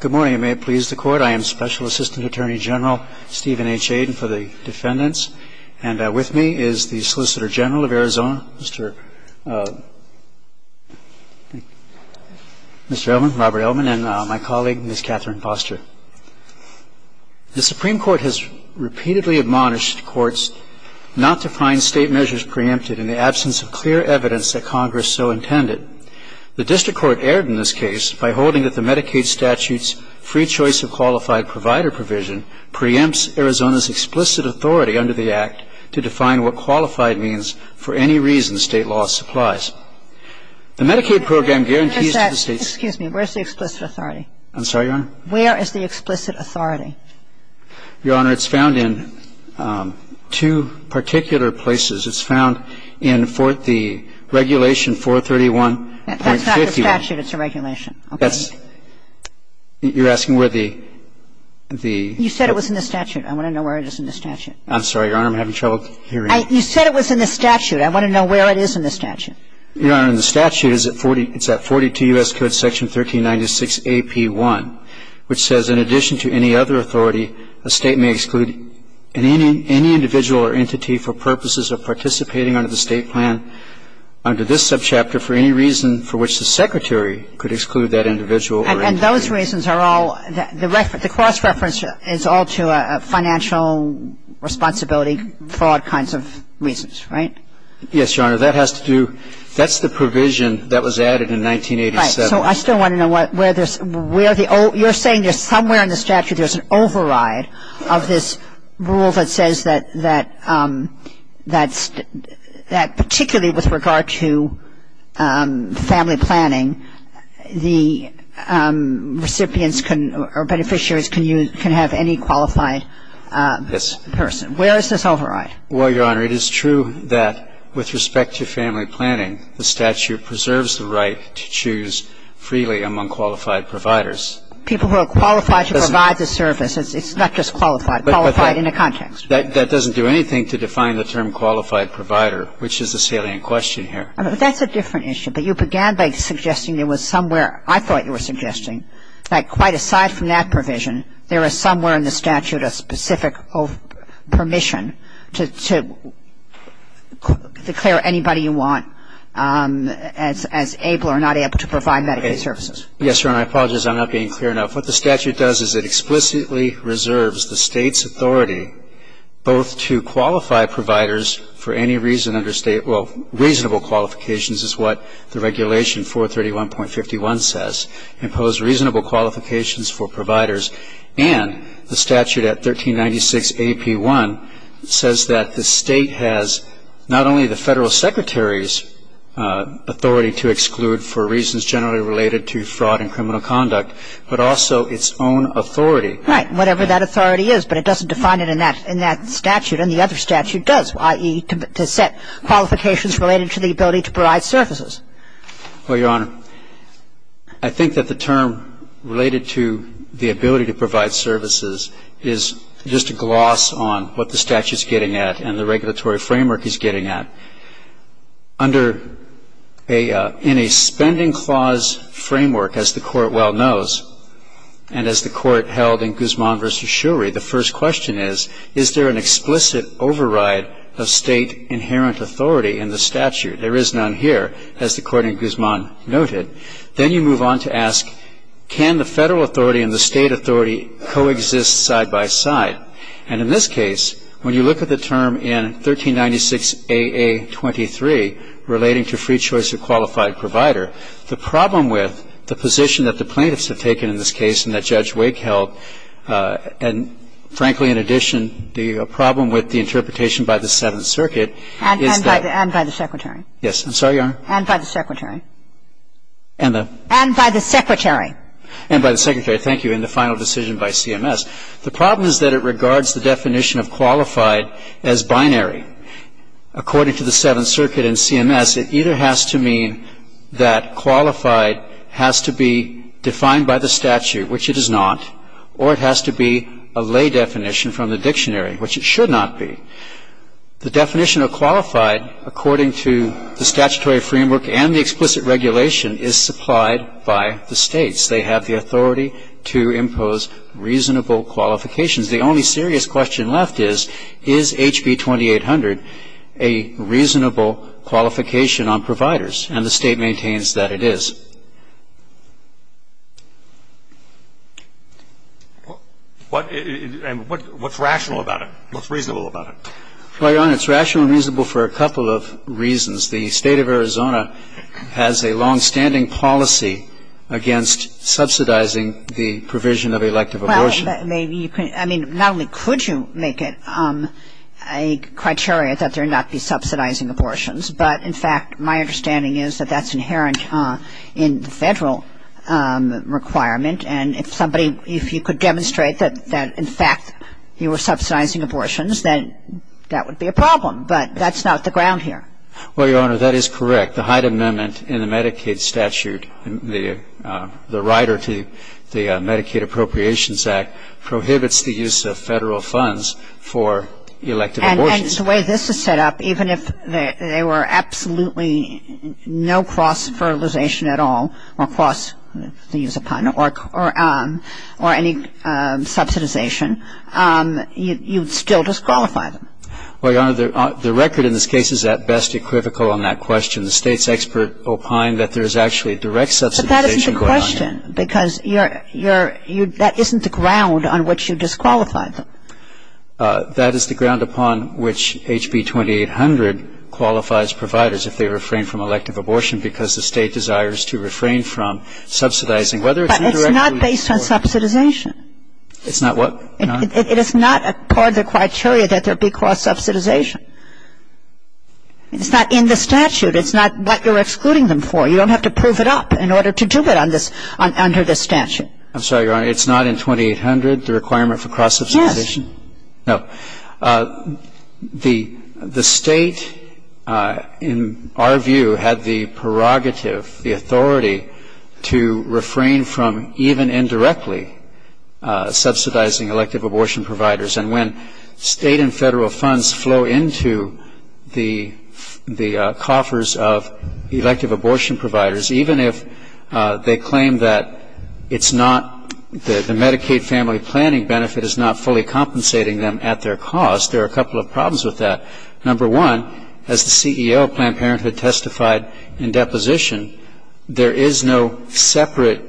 Good morning. May it please the Court. I am Special Assistant Attorney General Stephen H. Aden for the defendants, and with me is the Solicitor General of Arizona, Mr. Elman, Robert Elman, and my colleague, Ms. Catherine Foster. The Supreme Court has repeatedly admonished courts not to find state measures preempted in the absence of clear evidence that Congress so intended. The District Court erred in this case by holding that the Medicaid statute's free choice of qualified provider provision preempts Arizona's explicit authority under the Act to define what qualified means for any reason state law supplies. The Medicaid program guarantees to the state's Excuse me. Where's the explicit authority? I'm sorry, Your Honor? Where is the explicit authority? Your Honor, it's found in two particular places. It's found in the Regulation 431.50. That's not the statute. It's a regulation. Okay. You're asking where the You said it was in the statute. I want to know where it is in the statute. I'm sorry, Your Honor. I'm having trouble hearing. You said it was in the statute. I want to know where it is in the statute. Your Honor, in the statute, it's at 42 U.S. Code Section 1396AP1, which says, And those reasons are all the cross-reference is all to a financial responsibility for all kinds of reasons, right? Yes, Your Honor. That has to do That's the provision that was added in 1987. Right. So I still want to know where there's where the old You're saying there's some kind of provision that was added in 1987. somewhere in the statute there's an override of this rule that says that particularly with regard to family planning, the recipients or beneficiaries can have any qualified person. Yes. Where is this override? Well, Your Honor, it is true that with respect to family planning, the statute preserves the right to choose freely among qualified providers. People who are qualified to choose freely among qualified providers. That's a different issue. It's not just qualified. It's qualified in a context. That doesn't do anything to define the term qualified provider, which is a salient question here. That's a different issue. But you began by suggesting there was somewhere I thought you were suggesting that quite aside from that provision, there is somewhere in the statute a specific permission to declare anybody you want as able or not able to provide Medicaid services. Yes, Your Honor. I apologize. I'm not being clear enough. What the statute does is it explicitly reserves the State's authority both to qualify providers for any reason under State, well, reasonable qualifications is what the regulation 431.51 says, impose reasonable qualifications for providers, and the statute at 1396 AP1 says that the State has not only the Federal Secretary's authority to exclude for reasons generally related to fraud and criminal conduct, but also its own authority. Right. Whatever that authority is. But it doesn't define it in that statute. And the other statute does, i.e., to set qualifications related to the ability to provide services. Well, Your Honor, I think that the term related to the ability to provide services is just a gloss on what the statute is getting at and the regulatory framework it's getting at. In a spending clause framework, as the Court well knows, and as the Court held in Guzman v. Shurey, the first question is, is there an explicit override of State inherent authority in the statute? There is none here, as the Court in Guzman noted. Then you move on to ask, can the Federal authority and the And in this case, when you look at the term in 1396AA23 relating to free choice of qualified provider, the problem with the position that the plaintiffs have taken in this case and that Judge Wake held, and frankly, in addition, the problem with the interpretation by the Seventh Circuit is that And by the Secretary. Yes. I'm sorry, Your Honor. And by the Secretary. And the And by the Secretary. Thank you. And the final decision by CMS. The problem is that it regards the definition of qualified as binary. According to the Seventh Circuit and CMS, it either has to mean that qualified has to be defined by the statute, which it is not, or it has to be a lay definition from the dictionary, which it should not be. The definition of qualified, according to the statutory framework and the to impose reasonable qualifications. The only serious question left is, is HB2800 a reasonable qualification on providers? And the State maintains that it is. What's rational about it? What's reasonable about it? Well, Your Honor, it's rational and reasonable for a couple of reasons. The State of Arizona has a long-standing policy against subsidizing the provision of elective abortion. Well, maybe you can't. I mean, not only could you make it a criteria that there not be subsidizing abortions, but in fact, my understanding is that that's inherent in the Federal requirement, and if somebody, if you could demonstrate that in fact you were subsidizing abortions, then that would be a problem. But that's not the ground here. Well, Your Honor, that is correct. The Hyde Amendment in the Medicaid statute, the rider to the Medicaid Appropriations Act, prohibits the use of Federal funds for elective abortions. And the way this is set up, even if there were absolutely no cross-fertilization at all, or cross, to use a pun, or any subsidization, you'd still disqualify them. Well, Your Honor, the record in this case is at best equivocal on that question. The State's expert opined that there's actually direct subsidization going on here. But that isn't the question, because you're, you're, that isn't the ground on which you disqualify them. That is the ground upon which HB 2800 qualifies providers if they refrain from elective abortion because the State desires to refrain from subsidizing, whether it's indirectly or indirectly. But it's not based on subsidization. It's not what, Your Honor? It is not part of the criteria that there be cross-subsidization. It's not in the statute. It's not what you're excluding them for. You don't have to prove it up in order to do it on this, under this statute. I'm sorry, Your Honor. It's not in 2800, the requirement for cross-subsidization? Yes. No. The, the State, in our view, had the prerogative, the authority to refrain from even indirectly subsidizing elective abortion providers. And when State and Federal funds flow into the, the coffers of elective abortion providers, even if they claim that it's not, that the Medicaid family planning benefit is not fully compensating them at their cost, there are a couple of problems with that. Number one, as the CEO of Planned Parenthood testified in deposition, there is no separate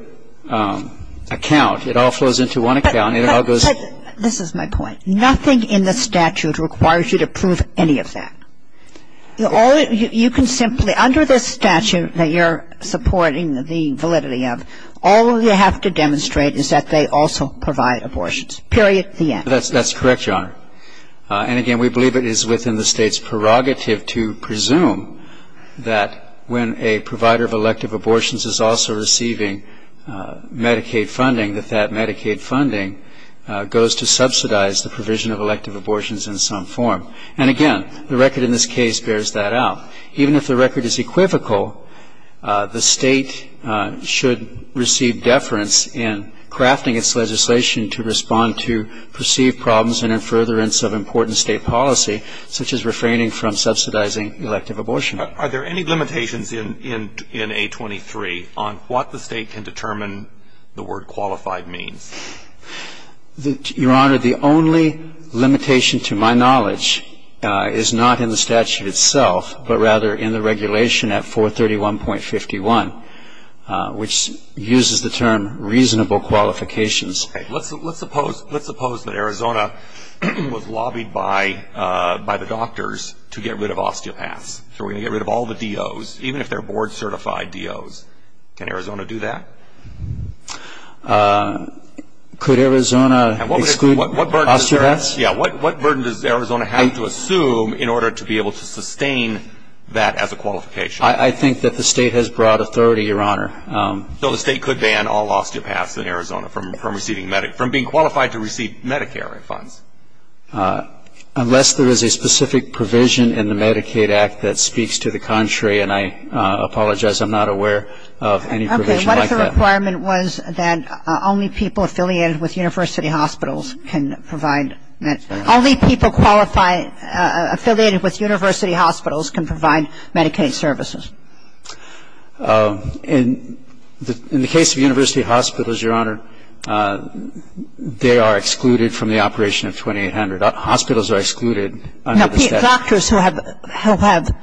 account. It all flows into one account. It all goes. But, but, this is my point. Nothing in the statute requires you to prove any of that. You only, you can simply, under this statute that you're supporting the validity of, all you have to demonstrate is that they also provide abortions, period, the end. That's, that's correct, Your Honor. And again, we believe it is within the State's prerogative to presume that when a provider of elective abortions is also receiving Medicaid funding, that that Medicaid funding goes to subsidize the provision of elective abortions in some form. And again, the record in this case bears that out. Even if the record is equivocal, the State should receive deference in crafting its legislation to respond to perceived problems and in furtherance of important State policy, such as refraining from subsidizing elective abortion. Are there any limitations in, in, in A23 on what the State can determine the word qualified means? Your Honor, the only limitation to my knowledge is not in the statute itself, but rather in the regulation at 431.51, which uses the term reasonable qualifications. Okay. Let's, let's suppose, let's suppose that Arizona was lobbied by, by the doctors to get rid of osteopaths. So we're going to get rid of all the DOs, even if they're board certified DOs. Can Arizona do that? Could Arizona exclude osteopaths? Yeah. What, what burden does Arizona have to assume in order to be able to sustain that as a qualification? I, I think that the State has broad authority, Your Honor. So the State could ban all osteopaths in Arizona from, from receiving, from being qualified to receive Medicare refunds? Unless there is a specific provision in the Medicaid Act that speaks to the contrary, and I apologize, I'm not aware of any provision like that. Okay. What if the requirement was that only people affiliated with university hospitals can provide, that only people qualified, affiliated with university hospitals can provide Medicaid services? In, in the case of university hospitals, Your Honor, they are excluded from the operation of 2800. Hospitals are excluded under the statute. No, doctors who have, who have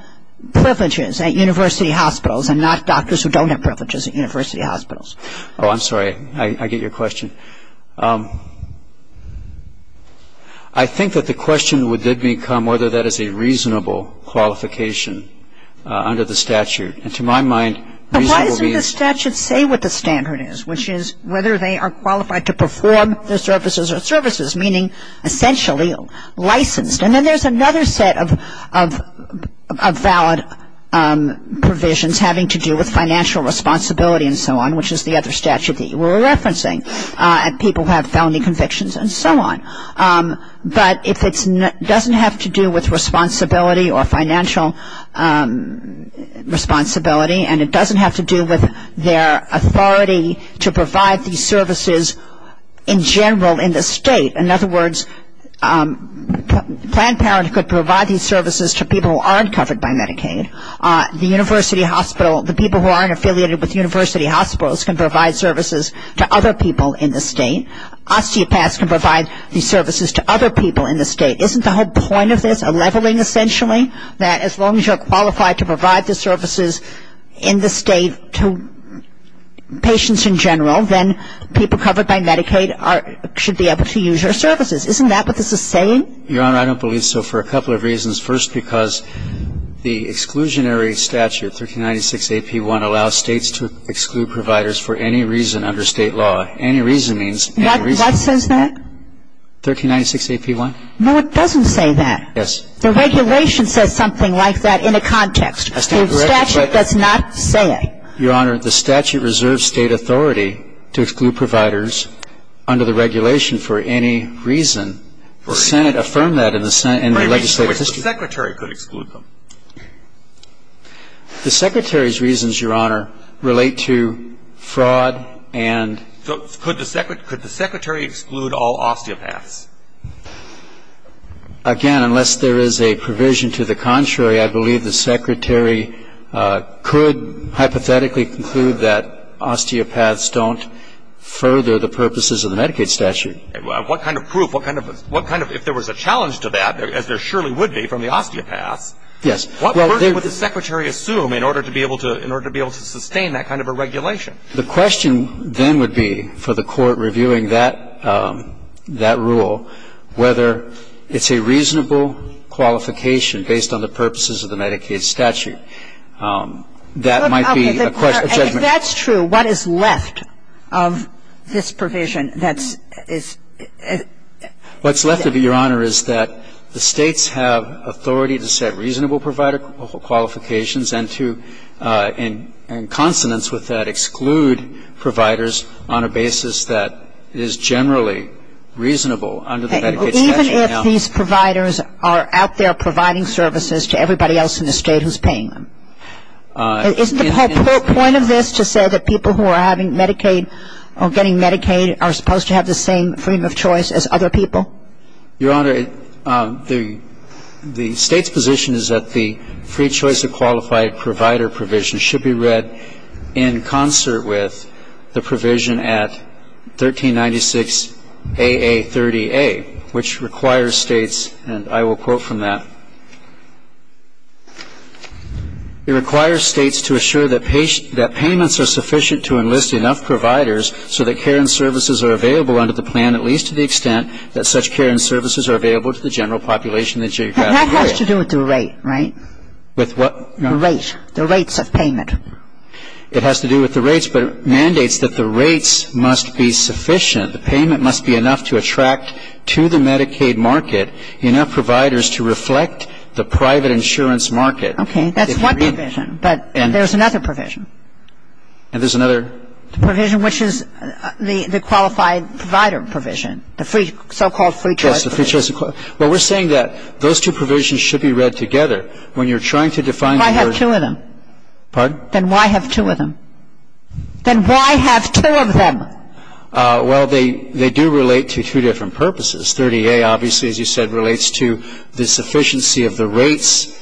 privileges at university hospitals and not doctors who don't have privileges at university hospitals. Oh, I'm sorry. I, I get your question. I think that the question would then become whether that is a reasonable qualification under the statute. And to my mind, reasonable means. But why doesn't the statute say what the standard is, which is whether they are services, meaning essentially licensed. And then there's another set of, of valid provisions having to do with financial responsibility and so on, which is the other statute that you were referencing, and people who have felony convictions and so on. But if it's, doesn't have to do with responsibility or financial responsibility and it doesn't have to do with their authority to provide these services in general in the state. In other words, Planned Parenthood could provide these services to people who aren't covered by Medicaid. The university hospital, the people who aren't affiliated with university hospitals can provide services to other people in the state. Osteopaths can provide these services to other people in the state. Isn't the whole point of this a leveling essentially? That as long as you're qualified to provide the services in the state to patients in general, then people covered by Medicaid should be able to use your services. Isn't that what this is saying? Your Honor, I don't believe so for a couple of reasons. First, because the exclusionary statute, 1396AP1, allows states to exclude providers for any reason under state law. Any reason means any reason. What says that? 1396AP1. No, it doesn't say that. Yes. The regulation says something like that in a context. I stand corrected. The statute does not say it. Your Honor, the statute reserves state authority to exclude providers under the regulation for any reason. The Senate affirmed that in the legislative history. Which secretary could exclude them? The secretary's reasons, Your Honor, relate to fraud and Could the secretary exclude all osteopaths? Again, unless there is a provision to the contrary, I believe the secretary could hypothetically conclude that osteopaths don't further the purposes of the Medicaid statute. What kind of proof, what kind of, if there was a challenge to that, as there surely would be from the osteopaths. Yes. What version would the secretary assume in order to be able to sustain that kind of a regulation? The question then would be, for the court reviewing that rule, whether it's a reasonable qualification based on the purposes of the Medicaid statute. That might be a judgment. If that's true, what is left of this provision that is? What's left of it, Your Honor, is that the States have authority to set reasonable provider qualifications and to, in consonance with that, exclude providers on a basis that is generally reasonable under the Medicaid statute. Even if these providers are out there providing services to everybody else in the State who's paying them? Isn't the whole point of this to say that people who are having Medicaid or getting Medicaid are supposed to have the same freedom of choice as other people? Your Honor, the State's position is that the free choice of qualified provider provision should be read in concert with the provision at 1396AA30A, which requires States, and I will quote from that, it requires States to assure that payments are sufficient to enlist enough providers so that care and services are available under the plan, at least to the extent that such care and services are available to the general population of the geographic area. That has to do with the rate, right? With what? The rate. The rates of payment. It has to do with the rates, but it mandates that the rates must be sufficient. The payment must be enough to attract to the Medicaid market enough providers to reflect the private insurance market. Okay. That's one provision, but there's another provision. And there's another? The provision which is the qualified provider provision, the so-called free choice. Yes, the free choice. Well, we're saying that those two provisions should be read together. When you're trying to define the word. Then why have two of them? Pardon? Then why have two of them? Then why have two of them? Well, they do relate to two different purposes. 30A, obviously, as you said, relates to the sufficiency of the rates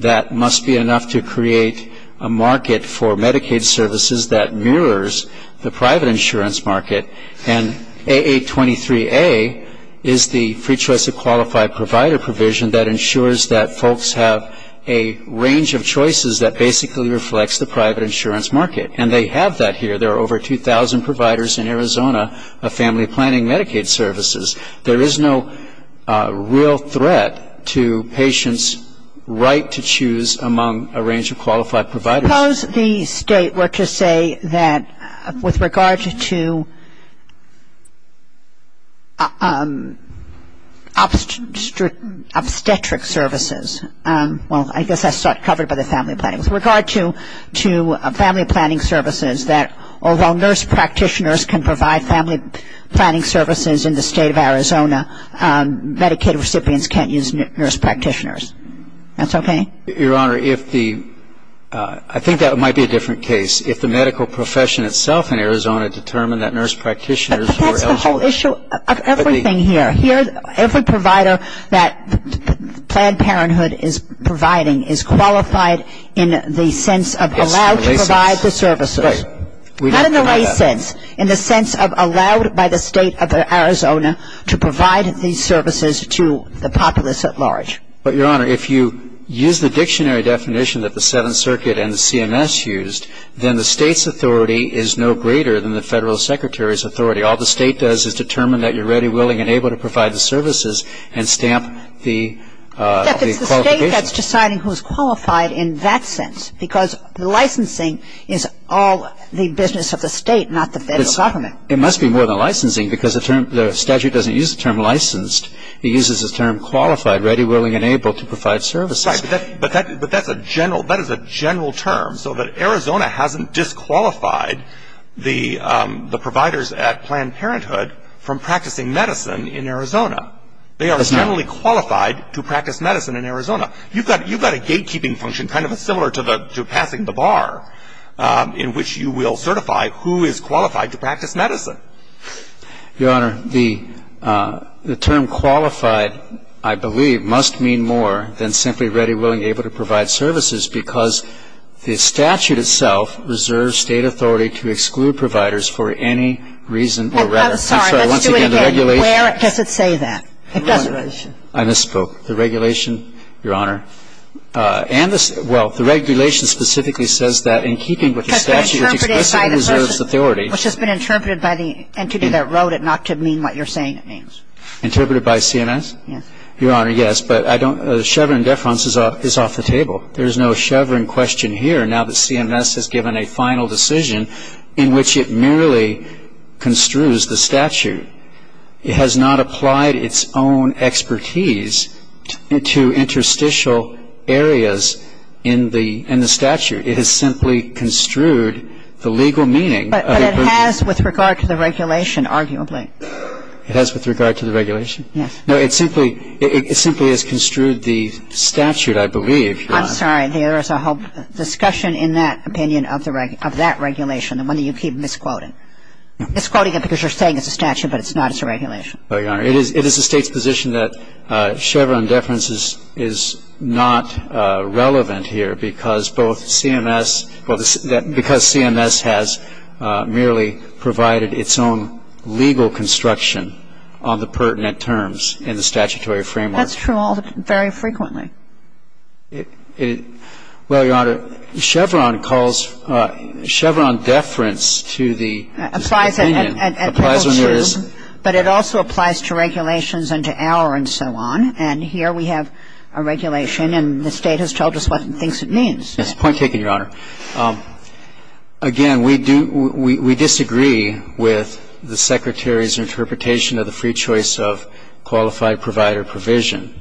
that must be enough to create a market for Medicaid services that mirrors the private insurance market. And 823A is the free choice of qualified provider provision that ensures that folks have a range of choices that basically reflects the private insurance market. And they have that here. There are over 2,000 providers in Arizona of family planning Medicaid services. There is no real threat to patients' right to choose among a range of qualified providers. Suppose the State were to say that with regard to obstetric services. Well, I guess that's covered by the family planning. With regard to family planning services, that although nurse practitioners can provide family planning services in the State of Arizona, Medicaid recipients can't use nurse practitioners. That's okay? Your Honor, I think that might be a different case. If the medical profession itself in Arizona determined that nurse practitioners were eligible. But that's the whole issue of everything here. Every provider that Planned Parenthood is providing is qualified in the sense of allowed to provide the services. Right. Not in the lay sense. In the sense of allowed by the State of Arizona to provide these services to the populace at large. But, Your Honor, if you use the dictionary definition that the Seventh Circuit and CMS used, then the State's authority is no greater than the Federal Secretary's authority. All the State does is determine that you're ready, willing and able to provide the services and stamp the qualification. In fact, it's the State that's deciding who's qualified in that sense. Because licensing is all the business of the State, not the Federal Government. It must be more than licensing because the statute doesn't use the term licensed. It uses the term qualified, ready, willing and able to provide services. Right. But that's a general term so that Arizona hasn't disqualified the providers at Planned Parenthood from practicing medicine in Arizona. They are generally qualified to practice medicine in Arizona. You've got a gatekeeping function kind of similar to passing the bar in which you will certify who is qualified to practice medicine. Right. Your Honor, the term qualified, I believe, must mean more than simply ready, willing, able to provide services because the statute itself reserves State authority to exclude providers for any reason or rather. I'm sorry. Let's do it again. Where does it say that? It doesn't. I misspoke. The regulation, Your Honor, and the – well, the regulation specifically says that in keeping with the statute, which expressly reserves authority. Which has been interpreted by the entity that wrote it not to mean what you're saying it means. Interpreted by CMS? Yes. Your Honor, yes. But I don't – Chevron deference is off the table. There is no Chevron question here now that CMS has given a final decision in which it merely construes the statute. It has not applied its own expertise to interstitial areas in the statute. It has simply construed the legal meaning. But it has with regard to the regulation, arguably. It has with regard to the regulation? Yes. No, it simply – it simply has construed the statute, I believe, Your Honor. I'm sorry. There is a whole discussion in that opinion of the – of that regulation, the one that you keep misquoting. Misquoting it because you're saying it's a statute, but it's not, it's a regulation. Well, Your Honor, it is the State's position that Chevron deference is not relevant here because both CMS – because CMS has merely provided its own legal construction on the pertinent terms in the statutory framework. That's true all – very frequently. Well, Your Honor, Chevron calls – Chevron deference to the opinion applies when there is – applies to regulations and to our and so on. And here we have a regulation and the State has told us what it thinks it means. Yes. Point taken, Your Honor. Again, we do – we disagree with the Secretary's interpretation of the free choice of qualified provider provision.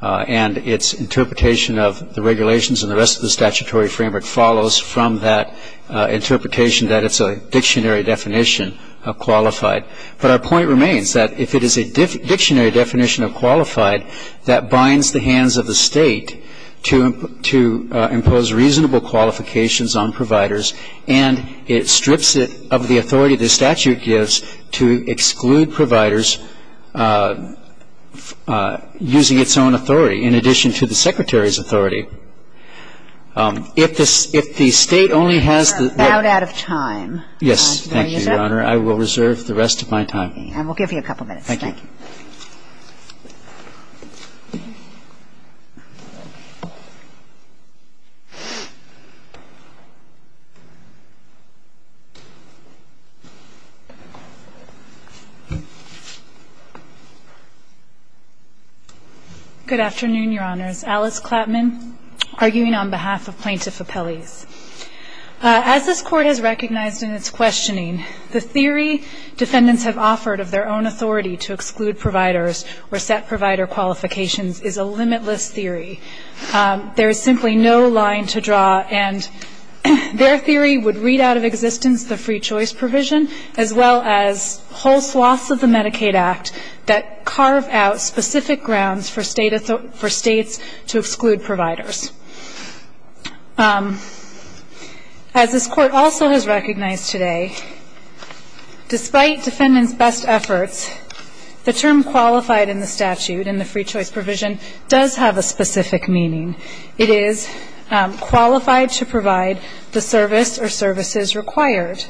And its interpretation of the regulations and the rest of the statutory framework follows from that interpretation that it's a dictionary definition of qualified. But our point remains that if it is a dictionary definition of qualified, that binds the hands of the State to impose reasonable qualifications on providers and it strips it of the authority the statute gives to exclude providers using its own authority in addition to the Secretary's authority. If the State only has the – You're about out of time. Yes. Thank you, Your Honor. I will reserve the rest of my time. Okay. And we'll give you a couple minutes. Thank you. Thank you. Good afternoon, Your Honors. Alice Klapman arguing on behalf of Plaintiff Appellees. As this Court has recognized in its questioning, the theory defendants have offered of their own authority to exclude providers or set provider qualifications is a limitless theory. There is simply no line to draw, and their theory would read out of existence the free choice provision as well as whole swaths of the Medicaid Act that carve out specific grounds for States to exclude providers. As this Court also has recognized today, despite defendants' best efforts, the term qualified in the statute in the free choice provision does have a specific meaning. It is qualified to provide the service or services required.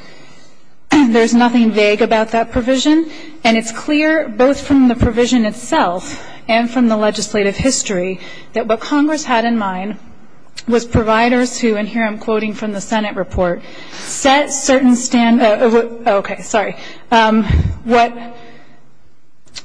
There's nothing vague about that provision, and it's clear both from the provision itself and from the legislative history that what Congress had in mind was providers who, and here I'm quoting from the Senate report, set certain standards. Okay. Sorry. What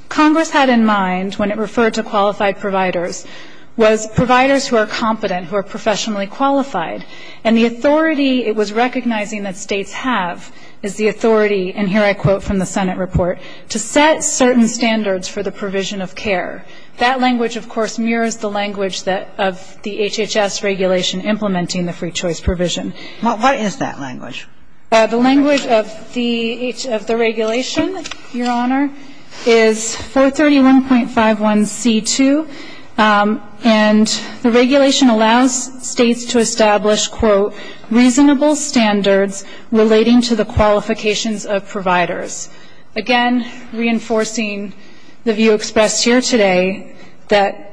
Congress had in mind when it referred to qualified providers was providers who are competent, who are professionally qualified, and the authority it was recognizing that States have is the authority, and here I quote from the Senate report, to set certain standards for the provision of care. That language, of course, mirrors the language of the HHS regulation implementing the free choice provision. What is that language? The language of the regulation, Your Honor, is 431.51c2, and the regulation allows States to establish, quote, relating to the qualifications of providers. Again, reinforcing the view expressed here today that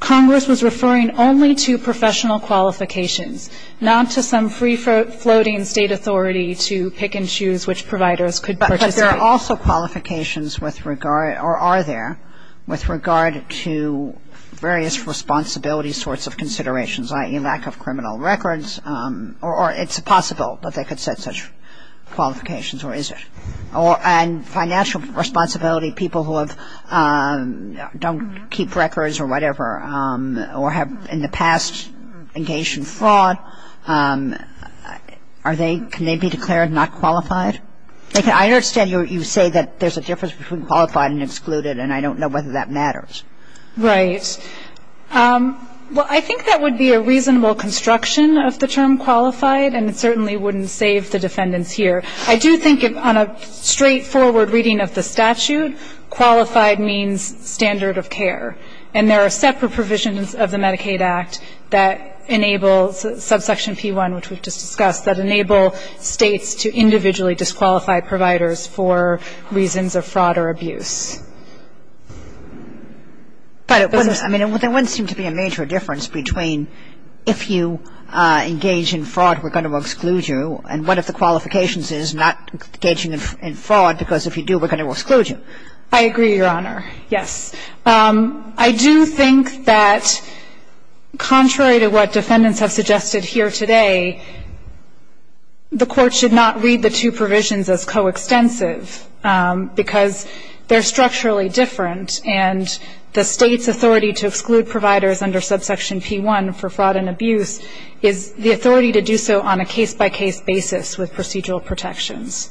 Congress was referring only to professional qualifications, not to some free-floating State authority to pick and choose which providers could participate. But there are also qualifications with regard, or are there, with regard to various responsibility sorts of considerations, i.e., lack of criminal records, or it's possible that they could set such qualifications, or is it? And financial responsibility, people who have, don't keep records or whatever, or have in the past engaged in fraud, are they, can they be declared not qualified? I understand you say that there's a difference between qualified and excluded, and I don't know whether that matters. Right. Well, I think that would be a reasonable construction of the term qualified, and it certainly wouldn't save the defendants here. I do think on a straightforward reading of the statute, qualified means standard of care, and there are separate provisions of the Medicaid Act that enable, subsection P1, which we've just discussed, that enable States to individually disqualify providers for reasons of fraud or abuse. But it wouldn't, I mean, there wouldn't seem to be a major difference between if you engage in fraud, we're going to exclude you, and what if the qualifications is not engaging in fraud, because if you do, we're going to exclude you. I agree, Your Honor. Yes. I do think that contrary to what defendants have suggested here today, the Court should not read the two provisions as coextensive, because they're structurally different, and the State's authority to exclude providers under subsection P1 for fraud and abuse is the authority to do so on a case-by-case basis with procedural protections,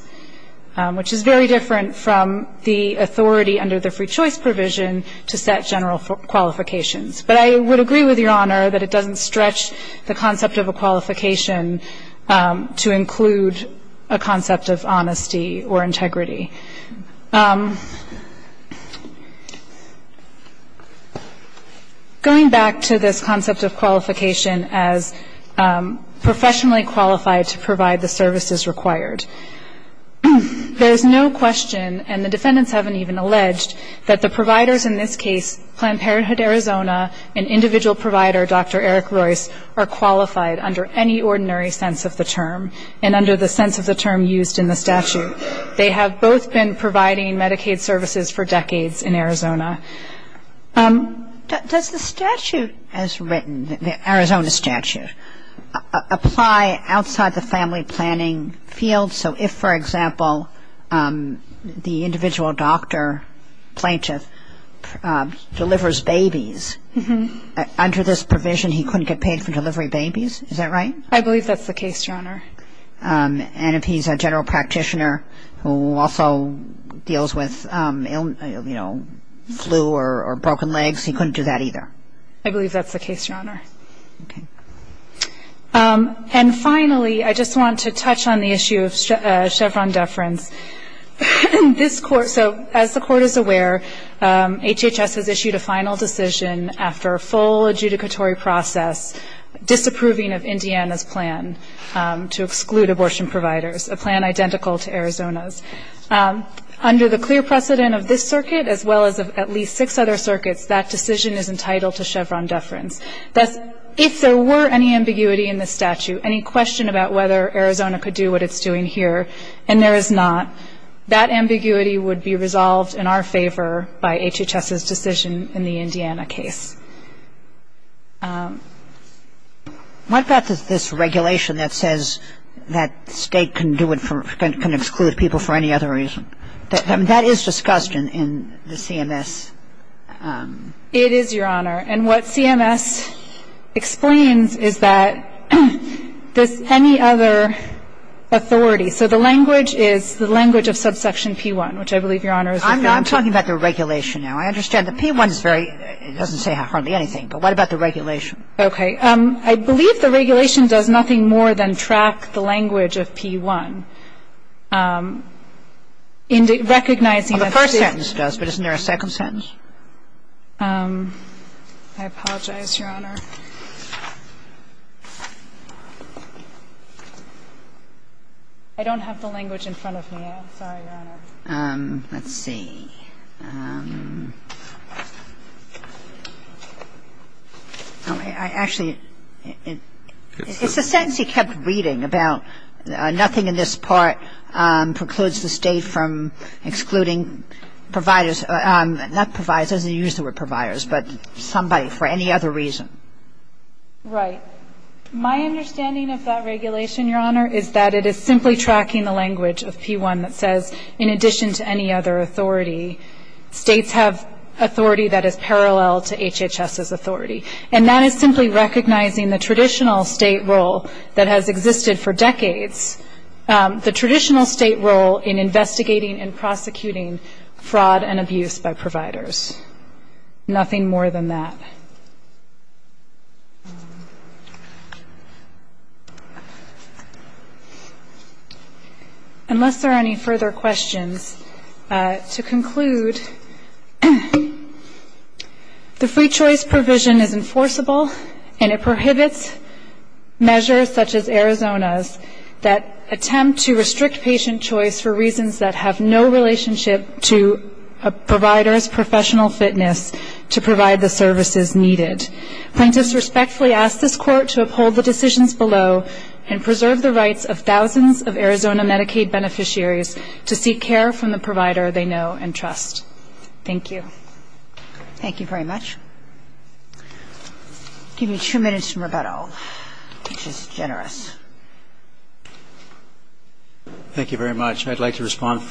which is very different from the authority under the free choice provision to set general qualifications. But I would agree with Your Honor that it doesn't stretch the concept of a qualification to include a concept of honesty or integrity. Going back to this concept of qualification as professionally qualified to provide the services required, there is no question, and the defendants haven't even alleged, that the providers in this case, Planned Parenthood Arizona, and individual provider, Dr. Eric Royce, are qualified under any ordinary sense of the term, and under the sense of the term used in the statute. They have both been providing Medicaid services for decades in Arizona. Does the statute as written, the Arizona statute, apply outside the family planning field? So if, for example, the individual doctor, plaintiff, delivers babies, under this provision he couldn't get paid for delivering babies, is that right? I believe that's the case, Your Honor. And if he's a general practitioner who also deals with, you know, flu or broken legs, he couldn't do that either? I believe that's the case, Your Honor. Okay. And finally, I just want to touch on the issue of Chevron deference. This Court, so as the Court is aware, HHS has issued a final decision after a full adjudicatory process, disapproving of Indiana's plan to exclude abortion providers, a plan identical to Arizona's. Under the clear precedent of this circuit, as well as of at least six other circuits, that decision is entitled to Chevron deference. Thus, if there were any ambiguity in the statute, any question about whether Arizona could do what it's doing here, and there is not, that ambiguity would be resolved in our favor by HHS's decision in the Indiana case. What about this regulation that says that the state can exclude people for any other reason? That is discussed in the CMS. It is, Your Honor. And what CMS explains is that there's any other authority. So the language is the language of subsection P1, which I believe Your Honor is referring to. I'm talking about the regulation now. I understand the P1 is very, it doesn't say hardly anything. But what about the regulation? Okay. I believe the regulation does nothing more than track the language of P1. Recognizing that this is the case. Well, the first sentence does, but isn't there a second sentence? I apologize, Your Honor. I don't have the language in front of me. I'm sorry, Your Honor. Let's see. Actually, it's the sentence he kept reading about nothing in this part precludes the state from excluding providers, not providers, it doesn't use the word providers, but somebody for any other reason. Right. My understanding of that regulation, Your Honor, is that it is simply tracking the language of P1 that says in addition to any other authority, states have authority that is parallel to HHS's authority. And that is simply recognizing the traditional state role that has existed for decades. The traditional state role in investigating and prosecuting fraud and abuse by providers. Nothing more than that. Unless there are any further questions, to conclude, the free choice provision is enforceable and it prohibits measures such as Arizona's that attempt to restrict patient choice for reasons that have no relationship to a provider's professional fitness to provide the services needed. Plaintiffs respectfully ask this court to uphold the decisions below and preserve the rights of thousands of Arizona Medicaid beneficiaries to seek care from the provider they know and trust. Thank you. Thank you very much. Give me two minutes in rebuttal, which is generous. Thank you very much. I'd like to respond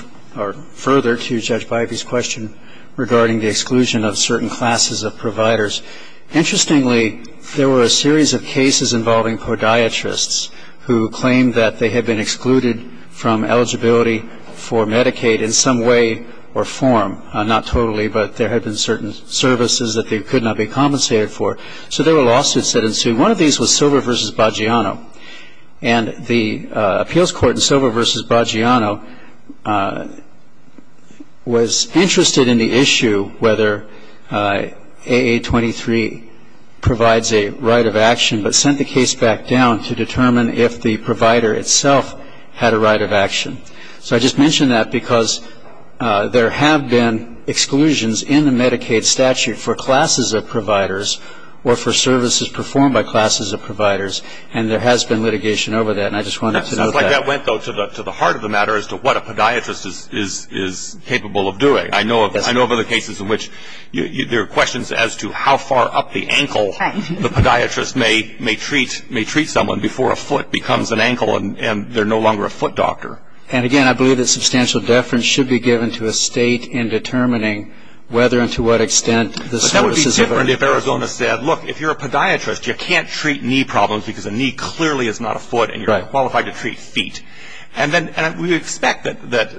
further to Judge Bybee's question regarding the exclusion of certain classes of providers. Interestingly, there were a series of cases involving podiatrists who claimed that they had been excluded from eligibility for Medicaid in some way or form. Not totally, but there had been certain services that they could not be compensated for. So there were lawsuits that ensued. One of these was Silver v. Baggiano, and the appeals court in Silver v. Baggiano was interested in the issue whether AA23 provides a right of action but sent the case back down to determine if the provider itself had a right of action. So I just mention that because there have been exclusions in the Medicaid statute for classes of providers or for services performed by classes of providers, and there has been litigation over that, and I just wanted to note that. It sounds like that went, though, to the heart of the matter as to what a podiatrist is capable of doing. I know of other cases in which there are questions as to how far up the ankle and they're no longer a foot doctor. And again, I believe that substantial deference should be given to a state in determining whether and to what extent the services of a... But that would be different if Arizona said, look, if you're a podiatrist, you can't treat knee problems because a knee clearly is not a foot and you're not qualified to treat feet. And we expect that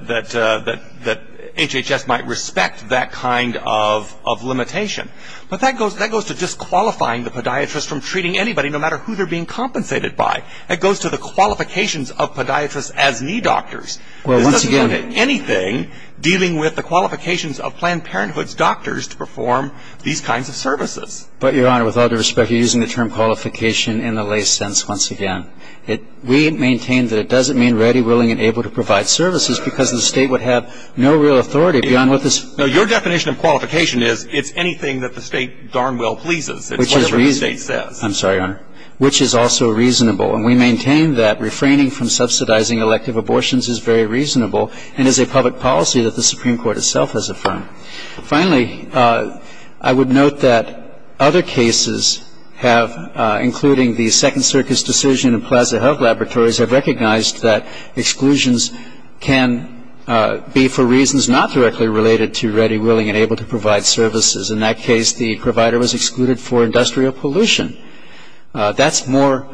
HHS might respect that kind of limitation. But that goes to disqualifying the podiatrist from treating anybody, no matter who they're being compensated by. It goes to the qualifications of podiatrists as knee doctors. Well, once again... This doesn't have anything dealing with the qualifications of Planned Parenthood's doctors to perform these kinds of services. But, Your Honor, with all due respect, you're using the term qualification in a lay sense once again. We maintain that it doesn't mean ready, willing, and able to provide services because the State would have no real authority beyond what this... No, your definition of qualification is it's anything that the State darn well pleases. It's whatever the State says. Which is reasonable. I'm sorry, Your Honor. Which is also reasonable. And we maintain that refraining from subsidizing elective abortions is very reasonable and is a public policy that the Supreme Court itself has affirmed. Finally, I would note that other cases have, including the Second Circus decision in Plaza Health Laboratories, have recognized that exclusions can be for reasons not directly related to ready, willing, and able to provide services. In that case, the provider was excluded for industrial pollution. That's more...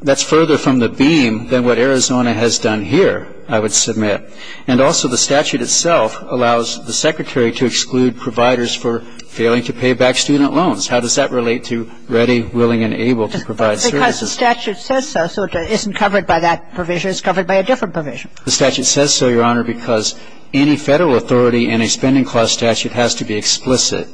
That's further from the beam than what Arizona has done here, I would submit. And also the statute itself allows the Secretary to exclude providers for failing to pay back student loans. How does that relate to ready, willing, and able to provide services? Because the statute says so. So it isn't covered by that provision. It's covered by a different provision. The statute says so, Your Honor, because any Federal authority in a spending clause statute has to be explicit.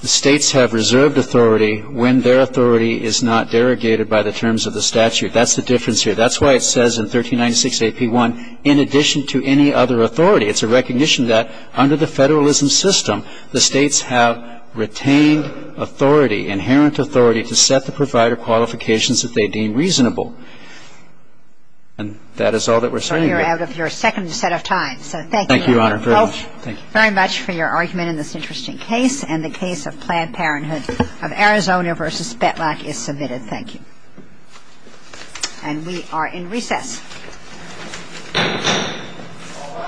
The States have reserved authority when their authority is not derogated by the terms of the statute. That's the difference here. That's why it says in 1396A.P.1, in addition to any other authority, it's a recognition that under the Federalism system, the States have retained authority, inherent authority, to set the provider qualifications that they deem reasonable. And that is all that we're saying here. So we are out of your second set of times. So thank you. Thank you, Your Honor, very much. Well, thank you very much for your argument in this interesting case. And the case of Planned Parenthood of Arizona v. Spetlak is submitted. Thank you. And we are in recess.